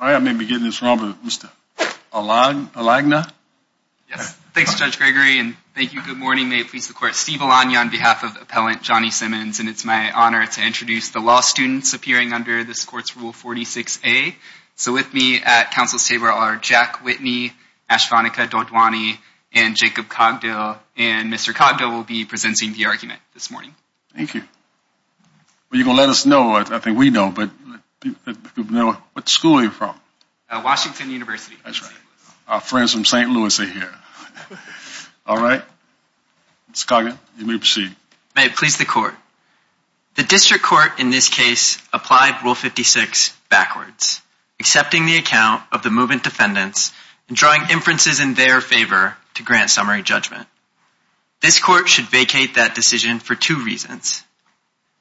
I may be getting this wrong, but Mr. Alagna? Yes. Thanks, Judge Gregory. And thank you. Good morning. May it please the Court. Steve Alagna on behalf of Appellant Johnny Simmons. And it's my honor to introduce the law students appearing under this Court's Rule 46A. So with me at counsel's table are Jack Whitney, Ashvanika Dodwani, and Jacob Cogdill. And Mr. Cogdill will be presenting the argument this morning. Thank you. Well, you're going to let us know. I think we know. But what school are you from? Washington University. That's right. Our friends from St. Louis are here. All right. Mr. Cogdill, you may proceed. May it please the Court. The District Court in this case applied Rule 56 backwards, accepting the account of the movement defendants and drawing inferences in their favor to grant summary judgment. This Court should vacate that decision for two reasons.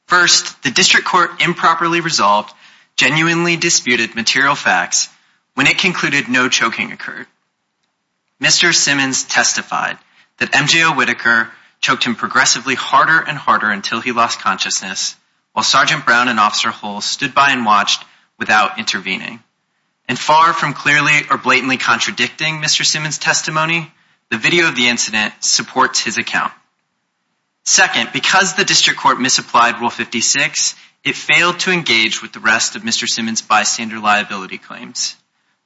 First, the District Court improperly resolved genuinely disputed material facts when it concluded no choking occurred. Mr. Simmons testified that M.J. O. Whitaker choked him progressively harder and harder until he lost consciousness, while Sgt. Brown and Officer Hull stood by and watched without intervening. And far from clearly or blatantly contradicting Mr. Simmons' testimony, the video of the incident supports his account. Second, because the District Court misapplied Rule 56, it failed to engage with the rest of Mr. Simmons' bystander liability claims.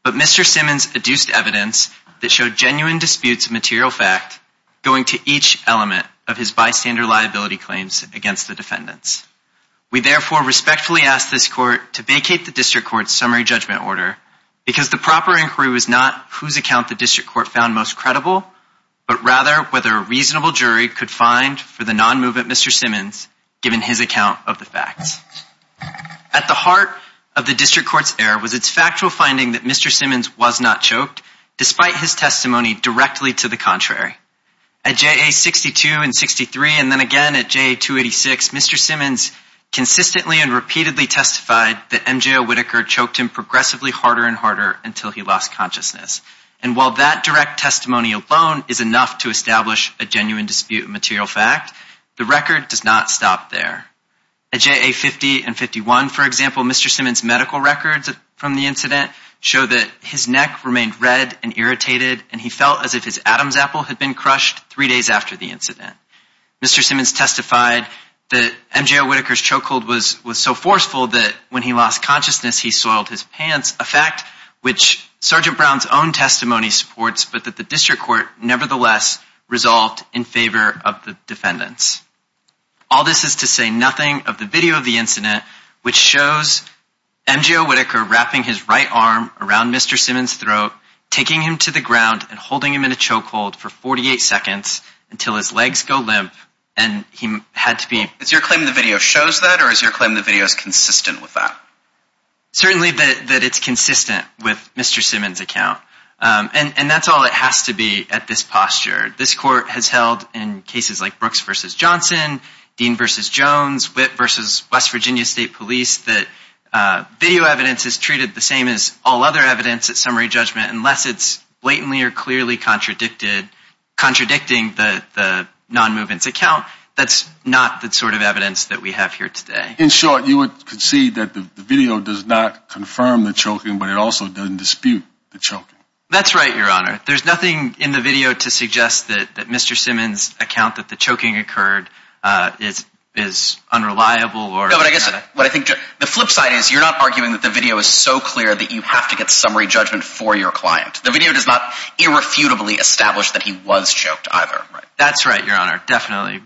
But Mr. Simmons adduced evidence that showed genuine disputes of material fact going to each element of his bystander liability claims against the defendants. We therefore respectfully ask this Court to vacate the District Court's summary judgment order, because the proper inquiry was not whose account the District Court found most credible, but rather whether a reasonable jury could find for the non-movement Mr. Simmons given his account of the facts. At the heart of the District Court's error was its factual finding that Mr. Simmons was not choked, despite his testimony directly to the contrary. At JA 62 and 63, and then again at JA 286, Mr. Simmons consistently and repeatedly testified that MJO Whitaker choked him progressively harder and harder until he lost consciousness. And while that direct testimony alone is enough to establish a genuine dispute of material fact, the record does not stop there. At JA 50 and 51, for example, Mr. Simmons' medical records from the incident show that his neck remained red and irritated, and he felt as if his Adam's apple had been crushed three days after the incident. Mr. Simmons testified that MJO Whitaker's chokehold was so forceful that when he lost consciousness, he soiled his pants, a fact which Sergeant Brown's own testimony supports, but that the District Court nevertheless resolved in favor of the defendants. All this is to say nothing of the video of the incident, which shows MJO Whitaker wrapping his right arm around Mr. Simmons' throat, taking him to the ground, and holding him in a chokehold for 48 seconds until his legs go limp and he had to be... Is your claim that the video shows that, or is your claim that the video is consistent with that? Certainly that it's consistent with Mr. Simmons' account. And that's all it has to be at this posture. This court has held in cases like Brooks v. Johnson, Dean v. Jones, Witt v. West Virginia State Police, that video evidence is treated the same as all other evidence at summary judgment unless it's blatantly or clearly contradicting the non-movement's account. That's not the sort of evidence that we have here today. In short, you would concede that the video does not confirm the choking, but it also doesn't dispute the choking. That's right, Your Honor. There's nothing in the video to suggest that Mr. Simmons' account that the choking occurred is unreliable or... No, but I guess what I think... The flip side is you're not arguing that the video is so clear that you have to get summary judgment for your client. The video does not irrefutably establish that he was choked either. That's right, Your Honor. Definitely.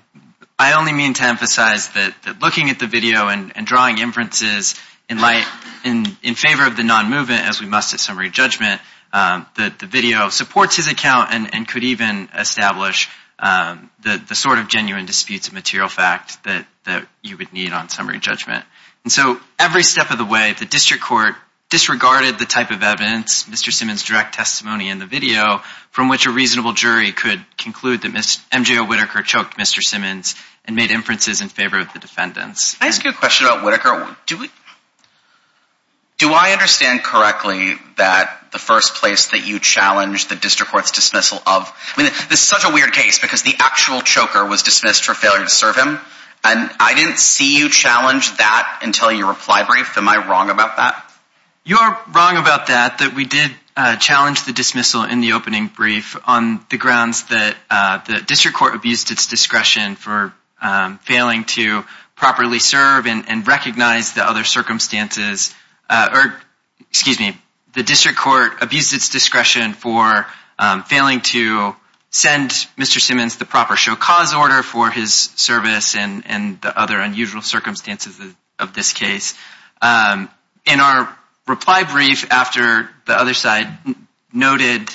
I only mean to emphasize that looking at the video and drawing inferences in favor of the non-movement, as we must at summary judgment, the video supports his account and could even establish the sort of genuine disputes of material fact that you would need on summary judgment. And so every step of the way, the district court disregarded the type of evidence, Mr. Simmons' direct testimony in the video, from which a reasonable jury could conclude that MJO Whittaker choked Mr. Simmons and made inferences in favor of the defendants. Can I ask you a question about Whittaker? Do I understand correctly that the first place that you challenged the district court's dismissal of... I mean, this is such a weird case because the actual choker was dismissed for failure to serve him, and I didn't see you challenge that until your reply brief. Am I wrong about that? You are wrong about that, that we did challenge the dismissal in the opening brief on the grounds that the district court abused its discretion for failing to properly serve and recognize the other circumstances, or excuse me, the district court abused its discretion for failing to send Mr. Simmons the proper show cause order for his service and the other unusual circumstances of this case. In our reply brief, after the other side noted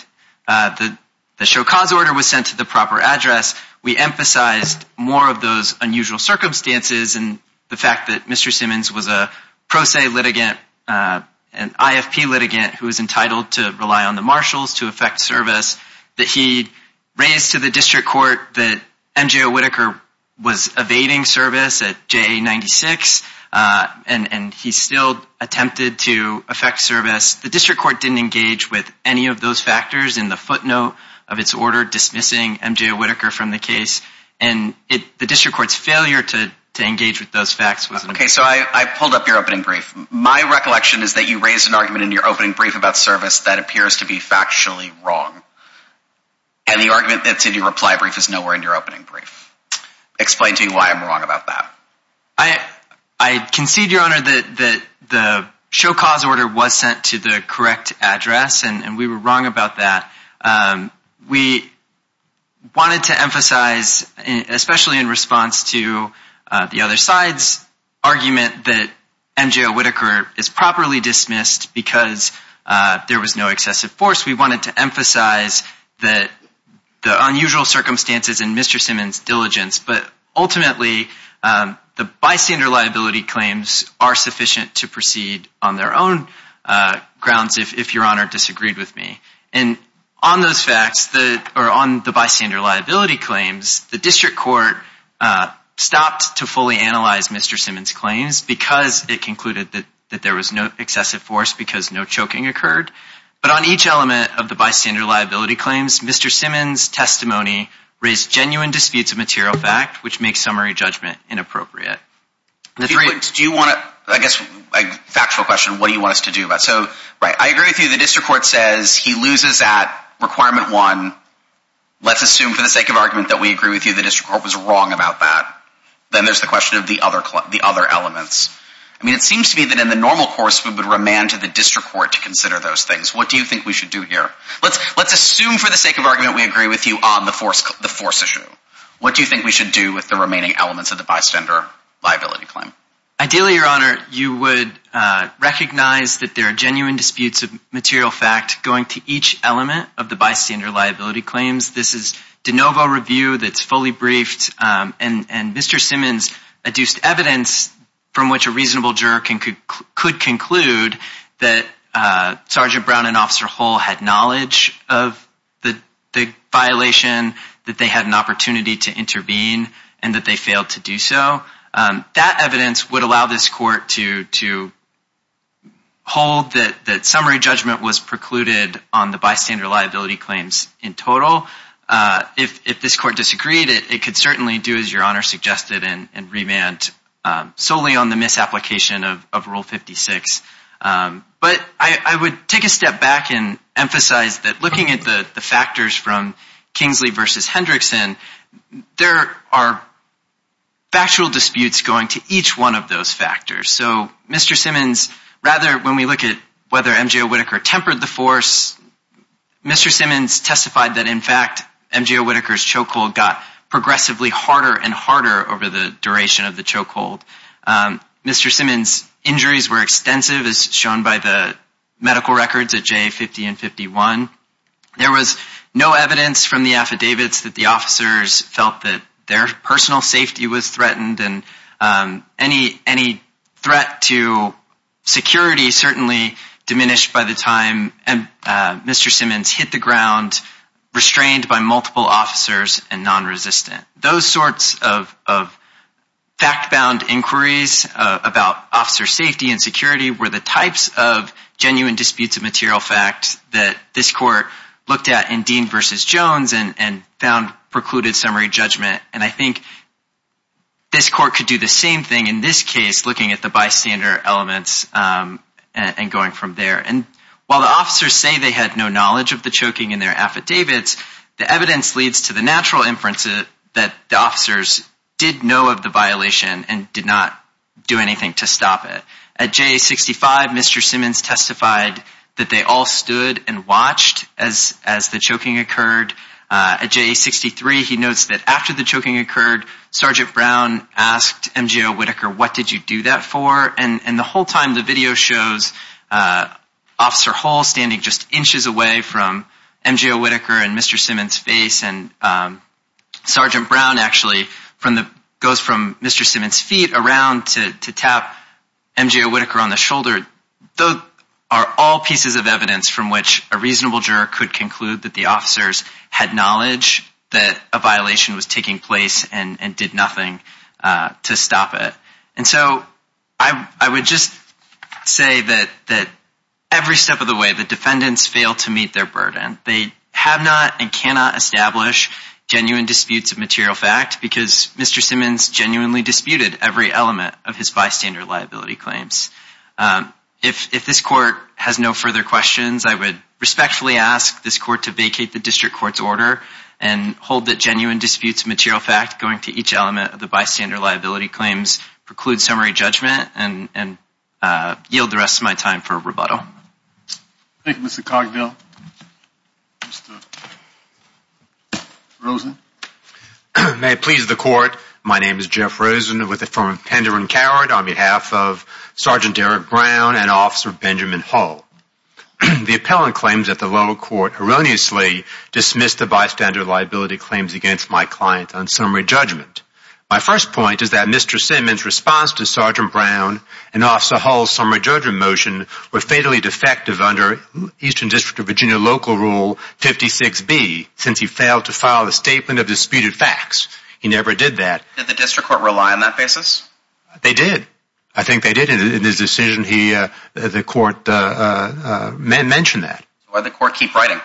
that the show cause order was sent to the proper address, we emphasized more of those unusual circumstances and the fact that Mr. Simmons was a pro se litigant, an IFP litigant who is entitled to rely on the marshals to effect service, that he raised to the district court that MJO Whittaker was evading service at JA 96, and he still attempted to effect service. The district court didn't engage with any of those factors in the footnote of its order dismissing MJO Whittaker from the case, and the district court's failure to engage with those facts. Okay, so I pulled up your opening brief. My recollection is that you raised an argument in your opening brief about service that appears to be factually wrong, and the argument that's in your reply brief is nowhere in your opening brief. Explain to me why I'm wrong about that. I concede, Your Honor, that the show cause order was sent to the correct address, and we were wrong about that. We wanted to emphasize, especially in response to the other side's argument that MJO Whittaker is properly dismissed because there was no excessive force, we wanted to emphasize the unusual circumstances in Mr. Simmons' diligence, but ultimately the bystander liability claims are sufficient to proceed on their own grounds if Your Honor disagreed with me. And on those facts, or on the bystander liability claims, the district court stopped to fully analyze Mr. Simmons' claims because it concluded that there was no excessive force because no choking occurred. But on each element of the bystander liability claims, Mr. Simmons' testimony raised genuine disputes of material fact, which makes summary judgment inappropriate. Do you want to, I guess, a factual question, what do you want us to do about it? So, right, I agree with you, the district court says he loses at requirement one. Let's assume for the sake of argument that we agree with you the district court was wrong about that. Then there's the question of the other elements. I mean, it seems to me that in the normal course we would remand to the district court to consider those things. What do you think we should do here? Let's assume for the sake of argument we agree with you on the force issue. What do you think we should do with the remaining elements of the bystander liability claim? Ideally, Your Honor, you would recognize that there are genuine disputes of material fact going to each element of the bystander liability claims. This is de novo review that's fully briefed. And Mr. Simmons adduced evidence from which a reasonable juror could conclude that Sergeant Brown and Officer Hull had knowledge of the violation, that they had an opportunity to intervene, and that they failed to do so. That evidence would allow this court to hold that summary judgment was precluded on the bystander liability claims in total. If this court disagreed, it could certainly do as Your Honor suggested and remand solely on the misapplication of Rule 56. But I would take a step back and emphasize that looking at the factors from Kingsley v. Hendrickson, there are factual disputes going to each one of those factors. So Mr. Simmons, rather when we look at whether M. J. Whitaker tempered the force, Mr. Simmons testified that in fact M. J. Whitaker's chokehold got progressively harder and harder over the duration of the chokehold. Mr. Simmons' injuries were extensive as shown by the medical records at J. 50 and 51. There was no evidence from the affidavits that the officers felt that their personal safety was threatened and any threat to security certainly diminished by the time Mr. Simmons hit the ground, restrained by multiple officers and non-resistant. Those sorts of fact-bound inquiries about officer safety and security were the types of genuine disputes of material facts that this court looked at in Dean v. Jones and found precluded summary judgment. And I think this court could do the same thing in this case looking at the bystander elements and going from there. And while the officers say they had no knowledge of the choking in their affidavits, the evidence leads to the natural inference that the officers did know of the violation and did not do anything to stop it. At J. 65, Mr. Simmons testified that they all stood and watched as the choking occurred. At J. 63, he notes that after the choking occurred, Sergeant Brown asked M. J. Whitaker, what did you do that for? And the whole time the video shows Officer Hull standing just inches away from M. J. Whitaker and Mr. Simmons' face and Sergeant Brown actually goes from Mr. Simmons' feet around to tap M. J. Whitaker on the shoulder, those are all pieces of evidence from which a reasonable juror could conclude that the officers had knowledge that a violation was taking place and did nothing to stop it. And so I would just say that every step of the way the defendants fail to meet their burden. They have not and cannot establish genuine disputes of material fact because Mr. Simmons genuinely disputed every element of his bystander liability claims. If this court has no further questions, I would respectfully ask this court to vacate the district court's order and hold that genuine disputes of material fact going to each element of the bystander liability claims preclude summary judgment and yield the rest of my time for rebuttal. Thank you, Mr. Cogdell. Mr. Rosen? May it please the court, my name is Jeff Rosen with the firm of Pender and Coward on behalf of Sergeant Eric Brown and Officer Benjamin Hull. The appellant claims at the lower court erroneously dismissed the bystander liability claims against my client on summary judgment. My first point is that Mr. Simmons' response to Sergeant Brown and Officer Hull's summary judgment motion were fatally defective under Eastern District of Virginia Local Rule 56B since he failed to file a statement of disputed facts. He never did that. Did the district court rely on that basis? They did. I think they did. In his decision, the court mentioned that. Why did the court keep writing?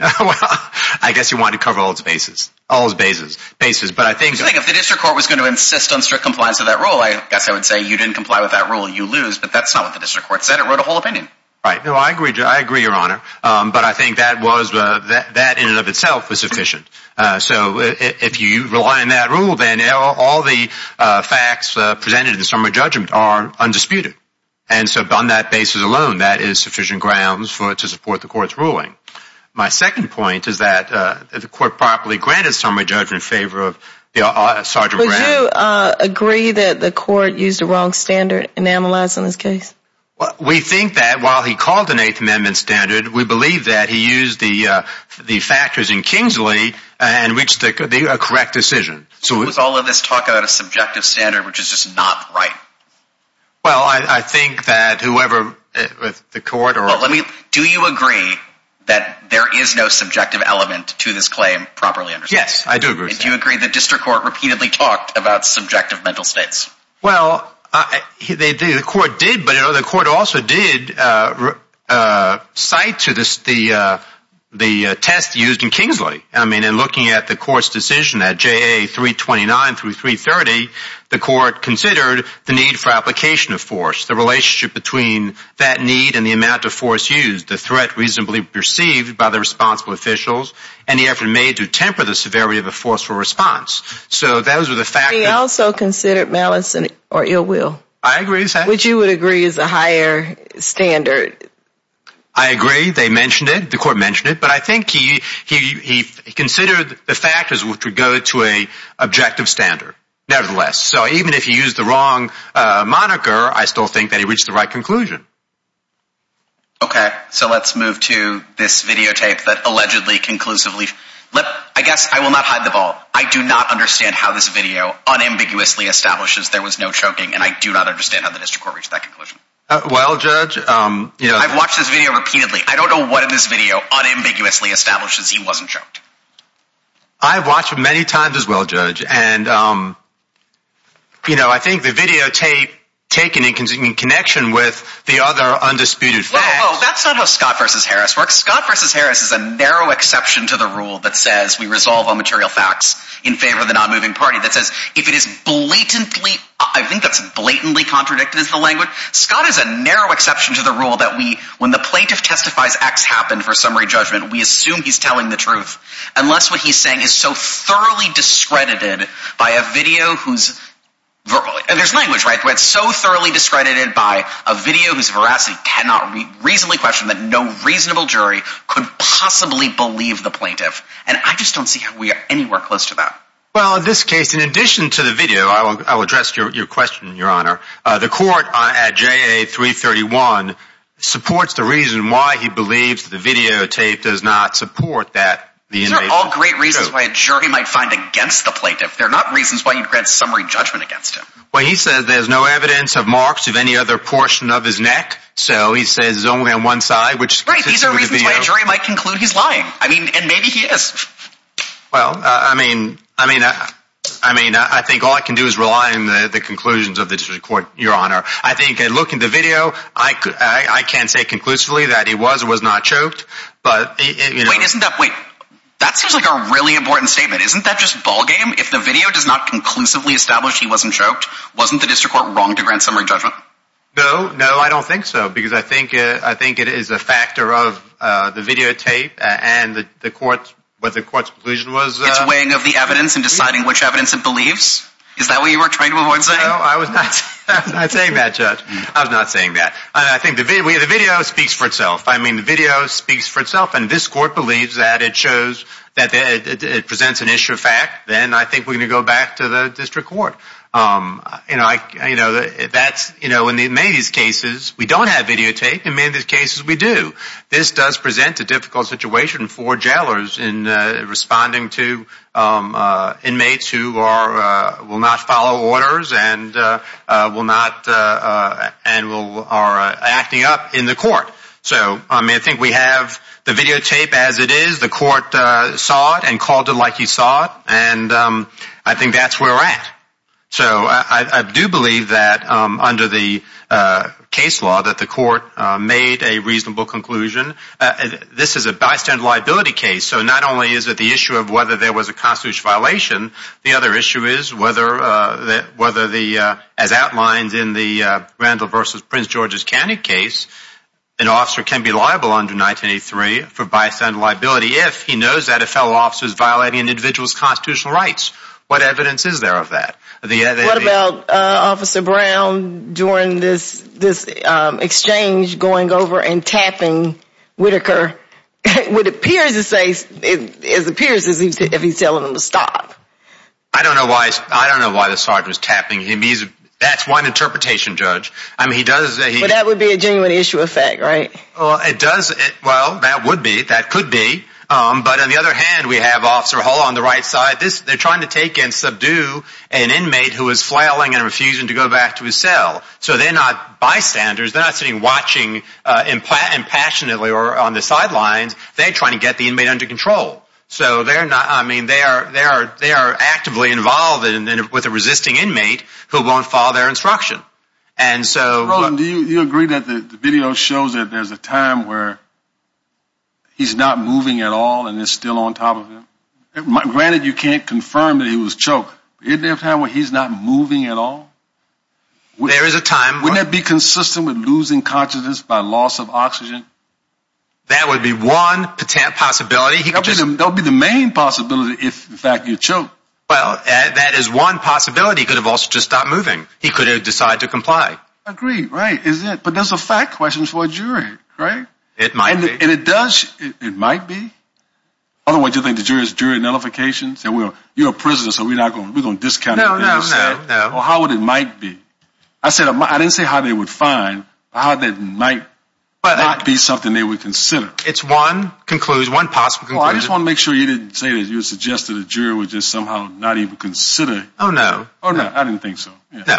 I guess he wanted to cover all his bases. If the district court was going to insist on strict compliance with that rule, I guess I would say you didn't comply with that rule, you lose, but that's not what the district court said. It wrote a whole opinion. I agree, Your Honor, but I think that in and of itself was sufficient. So if you rely on that rule, then all the facts presented in the summary judgment are undisputed. And so on that basis alone, that is sufficient grounds to support the court's ruling. My second point is that the court properly granted summary judgment in favor of Sergeant Brown. Would you agree that the court used a wrong standard enamelized in this case? We think that while he called an Eighth Amendment standard, we believe that he used the factors in Kingsley and reached a correct decision. So let's all of this talk about a subjective standard, which is just not right. Well, I think that whoever the court or... Do you agree that there is no subjective element to this claim properly understood? Yes, I do agree with that. Do you agree the district court repeatedly talked about subjective mental states? Well, the court did, but the court also did cite the test used in Kingsley. I mean, in looking at the court's decision at JA 329 through 330, the court considered the need for application of force, the relationship between that need and the amount of force used, the threat reasonably perceived by the responsible officials, and the effort made to temper the severity of the forceful response. He also considered malice or ill will, which you would agree is a higher standard. I agree. They mentioned it. The court mentioned it. But I think he considered the factors which would go to an objective standard, nevertheless. So even if he used the wrong moniker, I still think that he reached the right conclusion. Okay, so let's move to this videotape that allegedly conclusively... I guess I will not hide the ball. I do not understand how this video unambiguously establishes there was no choking, and I do not understand how the district court reached that conclusion. Well, Judge... I've watched this video repeatedly. I don't know what in this video unambiguously establishes he wasn't choked. I've watched it many times as well, Judge. And, you know, I think the videotape, taken in connection with the other undisputed facts... Well, that's not how Scott v. Harris works. Scott v. Harris is a narrow exception to the rule that says we resolve on material facts in favor of the non-moving party, that says if it is blatantly... I think that's blatantly contradicted is the language. Scott is a narrow exception to the rule that when the plaintiff testifies X happened for summary judgment, we assume he's telling the truth, unless what he's saying is so thoroughly discredited by a video whose... There's language, right? ...so thoroughly discredited by a video whose veracity cannot reasonably question that no reasonable jury could possibly believe the plaintiff. And I just don't see how we are anywhere close to that. Well, in this case, in addition to the video, I'll address your question, Your Honor. The court at JA 331 supports the reason why he believes the videotape does not support that... These are all great reasons why a jury might find against the plaintiff. They're not reasons why you'd grant summary judgment against him. Well, he says there's no evidence of marks of any other portion of his neck, so he says it's only on one side, which... Right, these are reasons why a jury might conclude he's lying. I mean, and maybe he is. Well, I mean, I think all I can do is rely on the conclusions of the court, Your Honor. I think, looking at the video, I can't say conclusively that he was or was not choked, but... Wait, isn't that, wait, that seems like a really important statement. Isn't that just ballgame? If the video does not conclusively establish he wasn't choked, wasn't the district court wrong to grant summary judgment? No, no, I don't think so, because I think it is a factor of the videotape and the court's conclusion was... It's weighing of the evidence and deciding which evidence it believes? Is that what you were trying to avoid saying? No, I was not saying that, Judge. I was not saying that. I think the video speaks for itself. I mean, the video speaks for itself, and if this court believes that it presents an issue of fact, then I think we're going to go back to the district court. You know, in many of these cases, we don't have videotape, and in many of these cases, we do. This does present a difficult situation for jailers in responding to inmates who will not follow orders and are acting up in the court. So, I mean, I think we have the videotape as it is. The court saw it and called it like he saw it, and I think that's where we're at. So I do believe that under the case law that the court made a reasonable conclusion. This is a bystander liability case, so not only is it the issue of whether there was a constitutional violation, the other issue is whether, as outlined in the Randall v. Prince George's County case, an officer can be liable under 1983 for bystander liability if he knows that a fellow officer is violating an individual's constitutional rights. What evidence is there of that? What about Officer Brown during this exchange going over and tapping Whitaker? It appears as if he's telling him to stop. I don't know why the sergeant was tapping him. That's one interpretation, Judge. But that would be a genuine issue of fact, right? Well, that would be. That could be. But on the other hand, we have Officer Hull on the right side. They're trying to take and subdue an inmate who is flailing and refusing to go back to his cell. So they're not bystanders. They're not sitting watching impassionately or on the sidelines. They're trying to get the inmate under control. So they are actively involved with a resisting inmate who won't follow their instruction. Do you agree that the video shows that there's a time where he's not moving at all and is still on top of him? Granted, you can't confirm that he was choked. Isn't there a time where he's not moving at all? There is a time. Wouldn't that be consistent with losing consciousness by loss of oxygen? That would be one potent possibility. That would be the main possibility if, in fact, you're choked. Well, that is one possibility. He could have also just stopped moving. He could have decided to comply. Agreed, right, isn't it? But that's a fact question for a jury, right? It might be. And it does. It might be. Otherwise, do you think the jury is jury nullification? You're a prisoner, so we're going to discount it. No, no, no. Well, how would it might be? I didn't say how they would find, but how that might be something they would consider. It's one conclusion, one possible conclusion. Well, I just want to make sure you didn't say that you suggested a jury would just somehow not even consider. Oh, no. Oh, no. I didn't think so. No.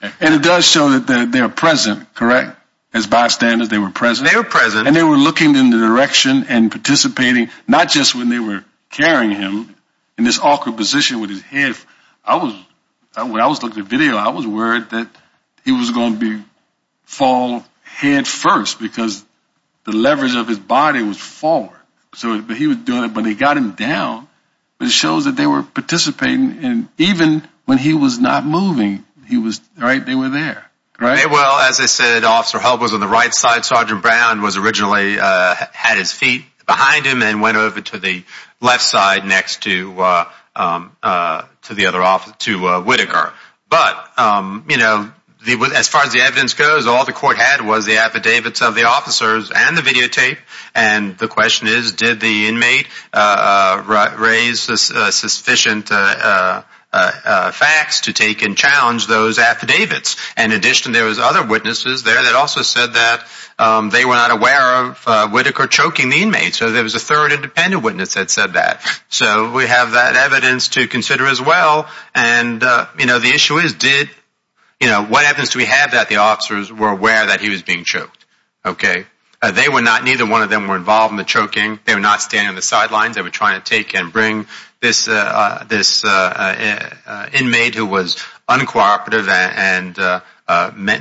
And it does show that they are present, correct? As bystanders, they were present? They were present. And they were looking in the direction and participating, not just when they were carrying him in this awkward position with his head. When I was looking at the video, I was worried that he was going to fall head first because the leverage of his body was forward. So he was doing it, but he got him down. But it shows that they were participating, and even when he was not moving, they were there, right? Well, as I said, Officer Hull was on the right side. Sergeant Brown was originally had his feet behind him and went over to the left side next to Whittaker. But, you know, as far as the evidence goes, all the court had was the affidavits of the officers and the videotape. And the question is, did the inmate raise sufficient facts to take and challenge those affidavits? In addition, there was other witnesses there that also said that they were not aware of Whittaker choking the inmate. So there was a third independent witness that said that. So we have that evidence to consider as well. And, you know, the issue is, did, you know, what evidence do we have that the officers were aware that he was being choked? Okay. They were not, neither one of them were involved in the choking. They were not standing on the sidelines. They were trying to take and bring this inmate who was uncooperative and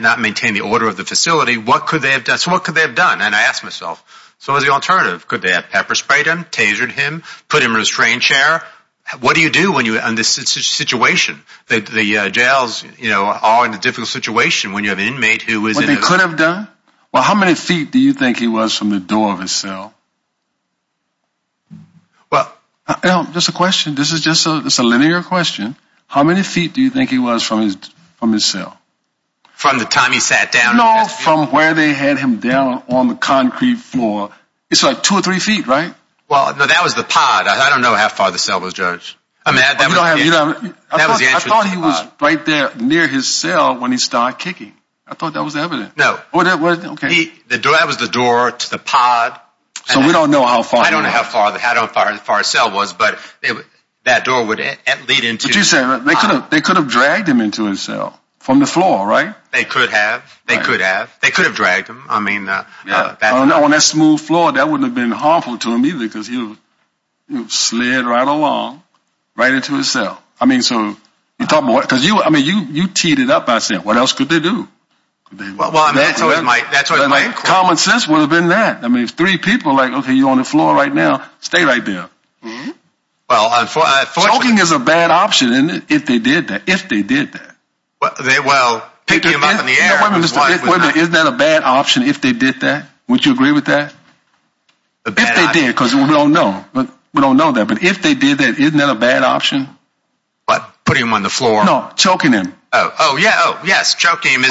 not maintain the order of the facility. What could they have done? So what could they have done? And I asked myself, so what was the alternative? Could they have pepper sprayed him, tasered him, put him in a restrained chair? What do you do when you're in this situation? The jails, you know, are in a difficult situation when you have an inmate who is in a- What they could have done? Well, how many feet do you think he was from the door of his cell? Well- Just a question. This is just a linear question. How many feet do you think he was from his cell? From the time he sat down? No, from where they had him down on the concrete floor. It's like two or three feet, right? Well, no, that was the pod. I don't know how far the cell was, Judge. You don't have- I thought he was right there near his cell when he started kicking. I thought that was evident. No. Okay. That was the door to the pod. So we don't know how far- I don't know how far his cell was, but that door would lead into- But you said they could have dragged him into his cell from the floor, right? They could have. They could have. They could have dragged him. I mean- On that smooth floor, that wouldn't have been harmful to him either because he would have slid right along, right into his cell. I mean, you teed it up by saying, what else could they do? Well, that's what my- Common sense would have been that. I mean, if three people are like, okay, you're on the floor right now, stay right there. Mm-hmm. Choking is a bad option if they did that. If they did that. Well, picking him up in the air. Wait a minute. Isn't that a bad option if they did that? Would you agree with that? If they did, because we don't know. We don't know that. But if they did that, isn't that a bad option? What? Putting him on the floor? No, choking him. Oh, yeah. Oh, yes. Choking him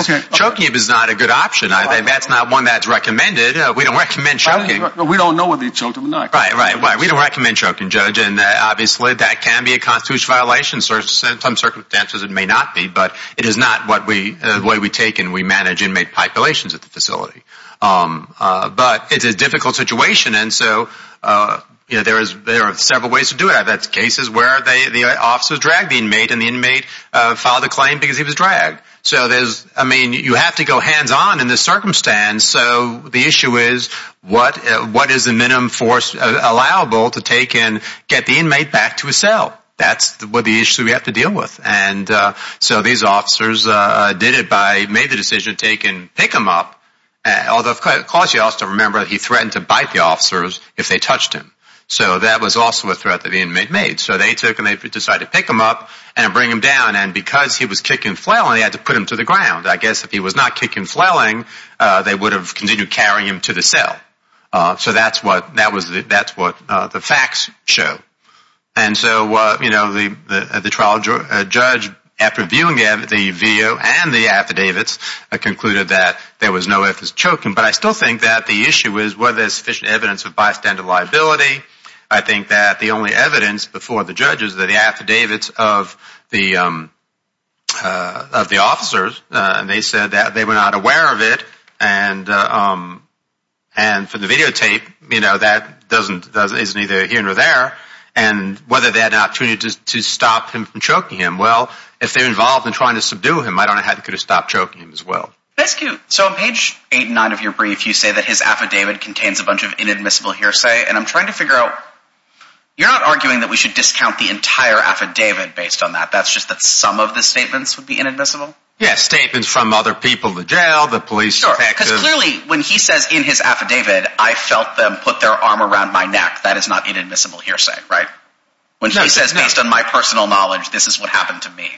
is not a good option. That's not one that's recommended. We don't recommend choking. We don't know whether he choked him or not. Right, right. We don't recommend choking, Judge. And obviously, that can be a constitutional violation. Under some circumstances, it may not be. But it is not the way we take and we manage inmate populations at the facility. But it's a difficult situation. And so there are several ways to do it. That's cases where the officer dragged the inmate and the inmate filed a claim because he was dragged. So there's, I mean, you have to go hands-on in this circumstance. So the issue is what is the minimum force allowable to take and get the inmate back to his cell? That's the issue we have to deal with. And so these officers did it by making the decision to take and pick him up, although it caused the officer to remember that he threatened to bite the officers if they touched him. So that was also a threat that the inmate made. So they took and they decided to pick him up and bring him down. And because he was kicking and flailing, they had to put him to the ground. I guess if he was not kicking and flailing, they would have continued carrying him to the cell. So that's what the facts show. And so, you know, the trial judge, after viewing the video and the affidavits, concluded that there was no effort in choking. But I still think that the issue is whether there's sufficient evidence of bystander liability. I think that the only evidence before the judge is the affidavits of the officers. And they said that they were not aware of it. And for the videotape, you know, that doesn't, isn't either here nor there. And whether they had an opportunity to stop him from choking him. Well, if they're involved in trying to subdue him, I don't know how they could have stopped choking him as well. So on page 8 and 9 of your brief, you say that his affidavit contains a bunch of inadmissible hearsay. And I'm trying to figure out, you're not arguing that we should discount the entire affidavit based on that. That's just that some of the statements would be inadmissible? Yes, statements from other people, the jail, the police. Because clearly, when he says in his affidavit, I felt them put their arm around my neck. That is not inadmissible hearsay, right? When he says, based on my personal knowledge, this is what happened to me.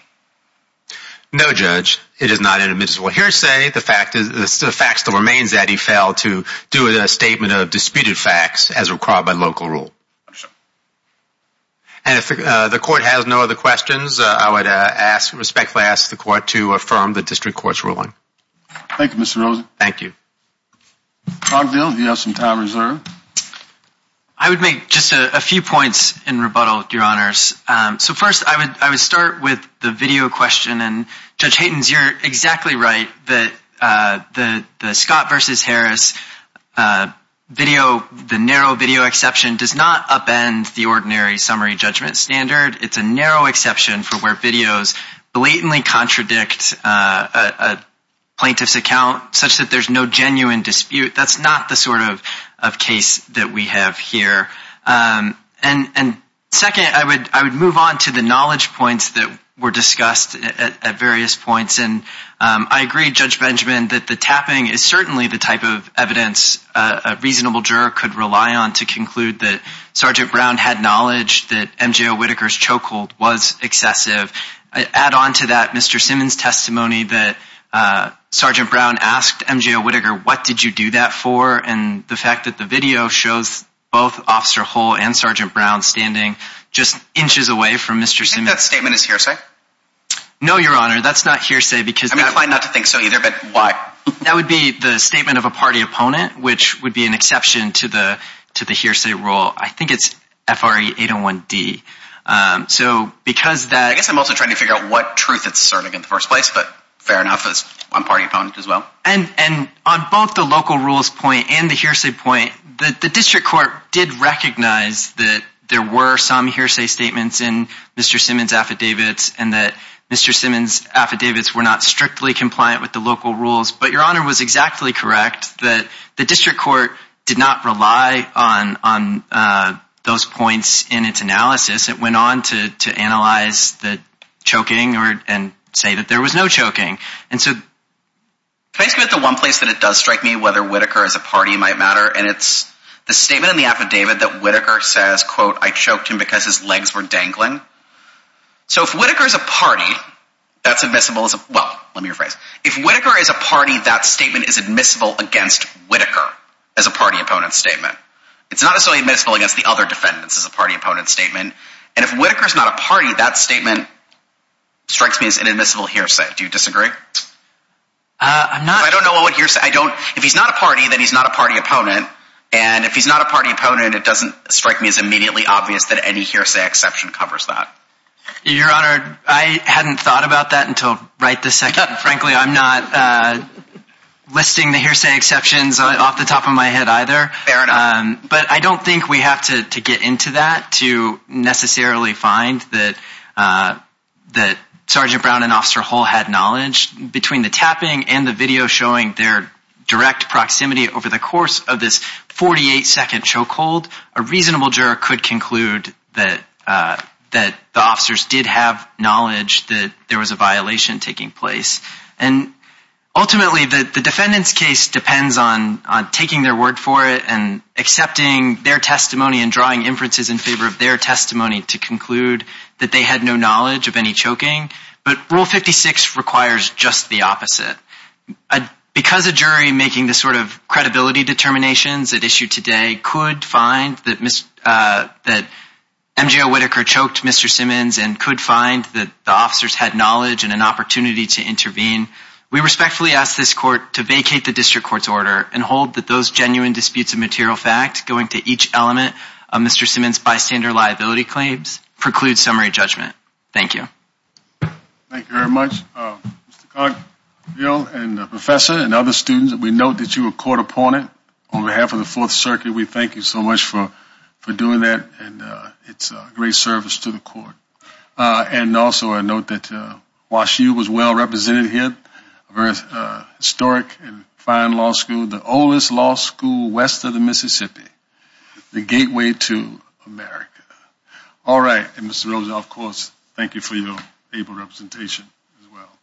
No, Judge. It is not inadmissible hearsay. The fact is, the fact still remains that he failed to do a statement of disputed facts as required by local rule. And if the court has no other questions, I would ask, respectfully ask the court to affirm the district court's ruling. Thank you, Mr. Rosen. Thank you. Cogville, you have some time reserved. I would make just a few points in rebuttal, your honors. So first, I would start with the video question. And Judge Haytens, you're exactly right that the Scott v. Harris video, the narrow video exception, does not upend the ordinary summary judgment standard. It's a narrow exception for where videos blatantly contradict a plaintiff's account such that there's no genuine dispute. That's not the sort of case that we have here. And second, I would move on to the knowledge points that were discussed at various points. And I agree, Judge Benjamin, that the tapping is certainly the type of evidence a reasonable juror could rely on to conclude that Sergeant Brown had knowledge that M.J. Whitaker's chokehold was excessive. Add on to that Mr. Simmons' testimony that Sergeant Brown asked M.J. Whitaker, what did you do that for? And the fact that the video shows both Officer Hull and Sergeant Brown standing just inches away from Mr. Simmons. Do you think that statement is hearsay? No, your honor, that's not hearsay. I'm inclined not to think so either, but why? That would be the statement of a party opponent, which would be an exception to the hearsay rule. I think it's FRA 801D. I guess I'm also trying to figure out what truth it's asserting in the first place, but fair enough, it's one party opponent as well. And on both the local rules point and the hearsay point, the district court did recognize that there were some hearsay statements in Mr. Simmons' affidavits and that Mr. Simmons' affidavits were not strictly compliant with the local rules. But your honor was exactly correct that the district court did not rely on those points in its analysis. It went on to analyze the choking and say that there was no choking. And so, can I skip to one place that it does strike me whether Whitaker as a party might matter? And it's the statement in the affidavit that Whitaker says, quote, I choked him because his legs were dangling. So if Whitaker is a party, that's admissible as a—well, let me rephrase. If Whitaker is a party, that statement is admissible against Whitaker as a party opponent statement. It's not necessarily admissible against the other defendants as a party opponent statement. And if Whitaker is not a party, that statement strikes me as an admissible hearsay. Do you disagree? I'm not— I don't know what hearsay—I don't—if he's not a party, then he's not a party opponent. And if he's not a party opponent, it doesn't strike me as immediately obvious that any hearsay exception covers that. Your honor, I hadn't thought about that until right this second. Frankly, I'm not listing the hearsay exceptions off the top of my head either. Fair enough. But I don't think we have to get into that to necessarily find that Sergeant Brown and Officer Hull had knowledge. Between the tapping and the video showing their direct proximity over the course of this 48-second choke hold, a reasonable juror could conclude that the officers did have knowledge that there was a violation taking place. And ultimately, the defendant's case depends on taking their word for it and accepting their testimony and drawing inferences in favor of their testimony to conclude that they had no knowledge of any choking. But Rule 56 requires just the opposite. Because a jury making the sort of credibility determinations at issue today could find that M.J. Whitaker choked Mr. Simmons and could find that the officers had knowledge and an opportunity to intervene, we respectfully ask this court to vacate the district court's order and hold that those genuine disputes of material fact going to each element of Mr. Simmons' bystander liability claims preclude summary judgment. Thank you. Thank you very much. Mr. Cogginsville and the professor and other students, we note that you were a court opponent on behalf of the Fourth Circuit. We thank you so much for doing that. And it's a great service to the court. And also I note that Wash U was well represented here, a very historic and fine law school, the oldest law school west of the Mississippi, the gateway to America. All right. And Mr. Rosa, of course, thank you for your able representation as well.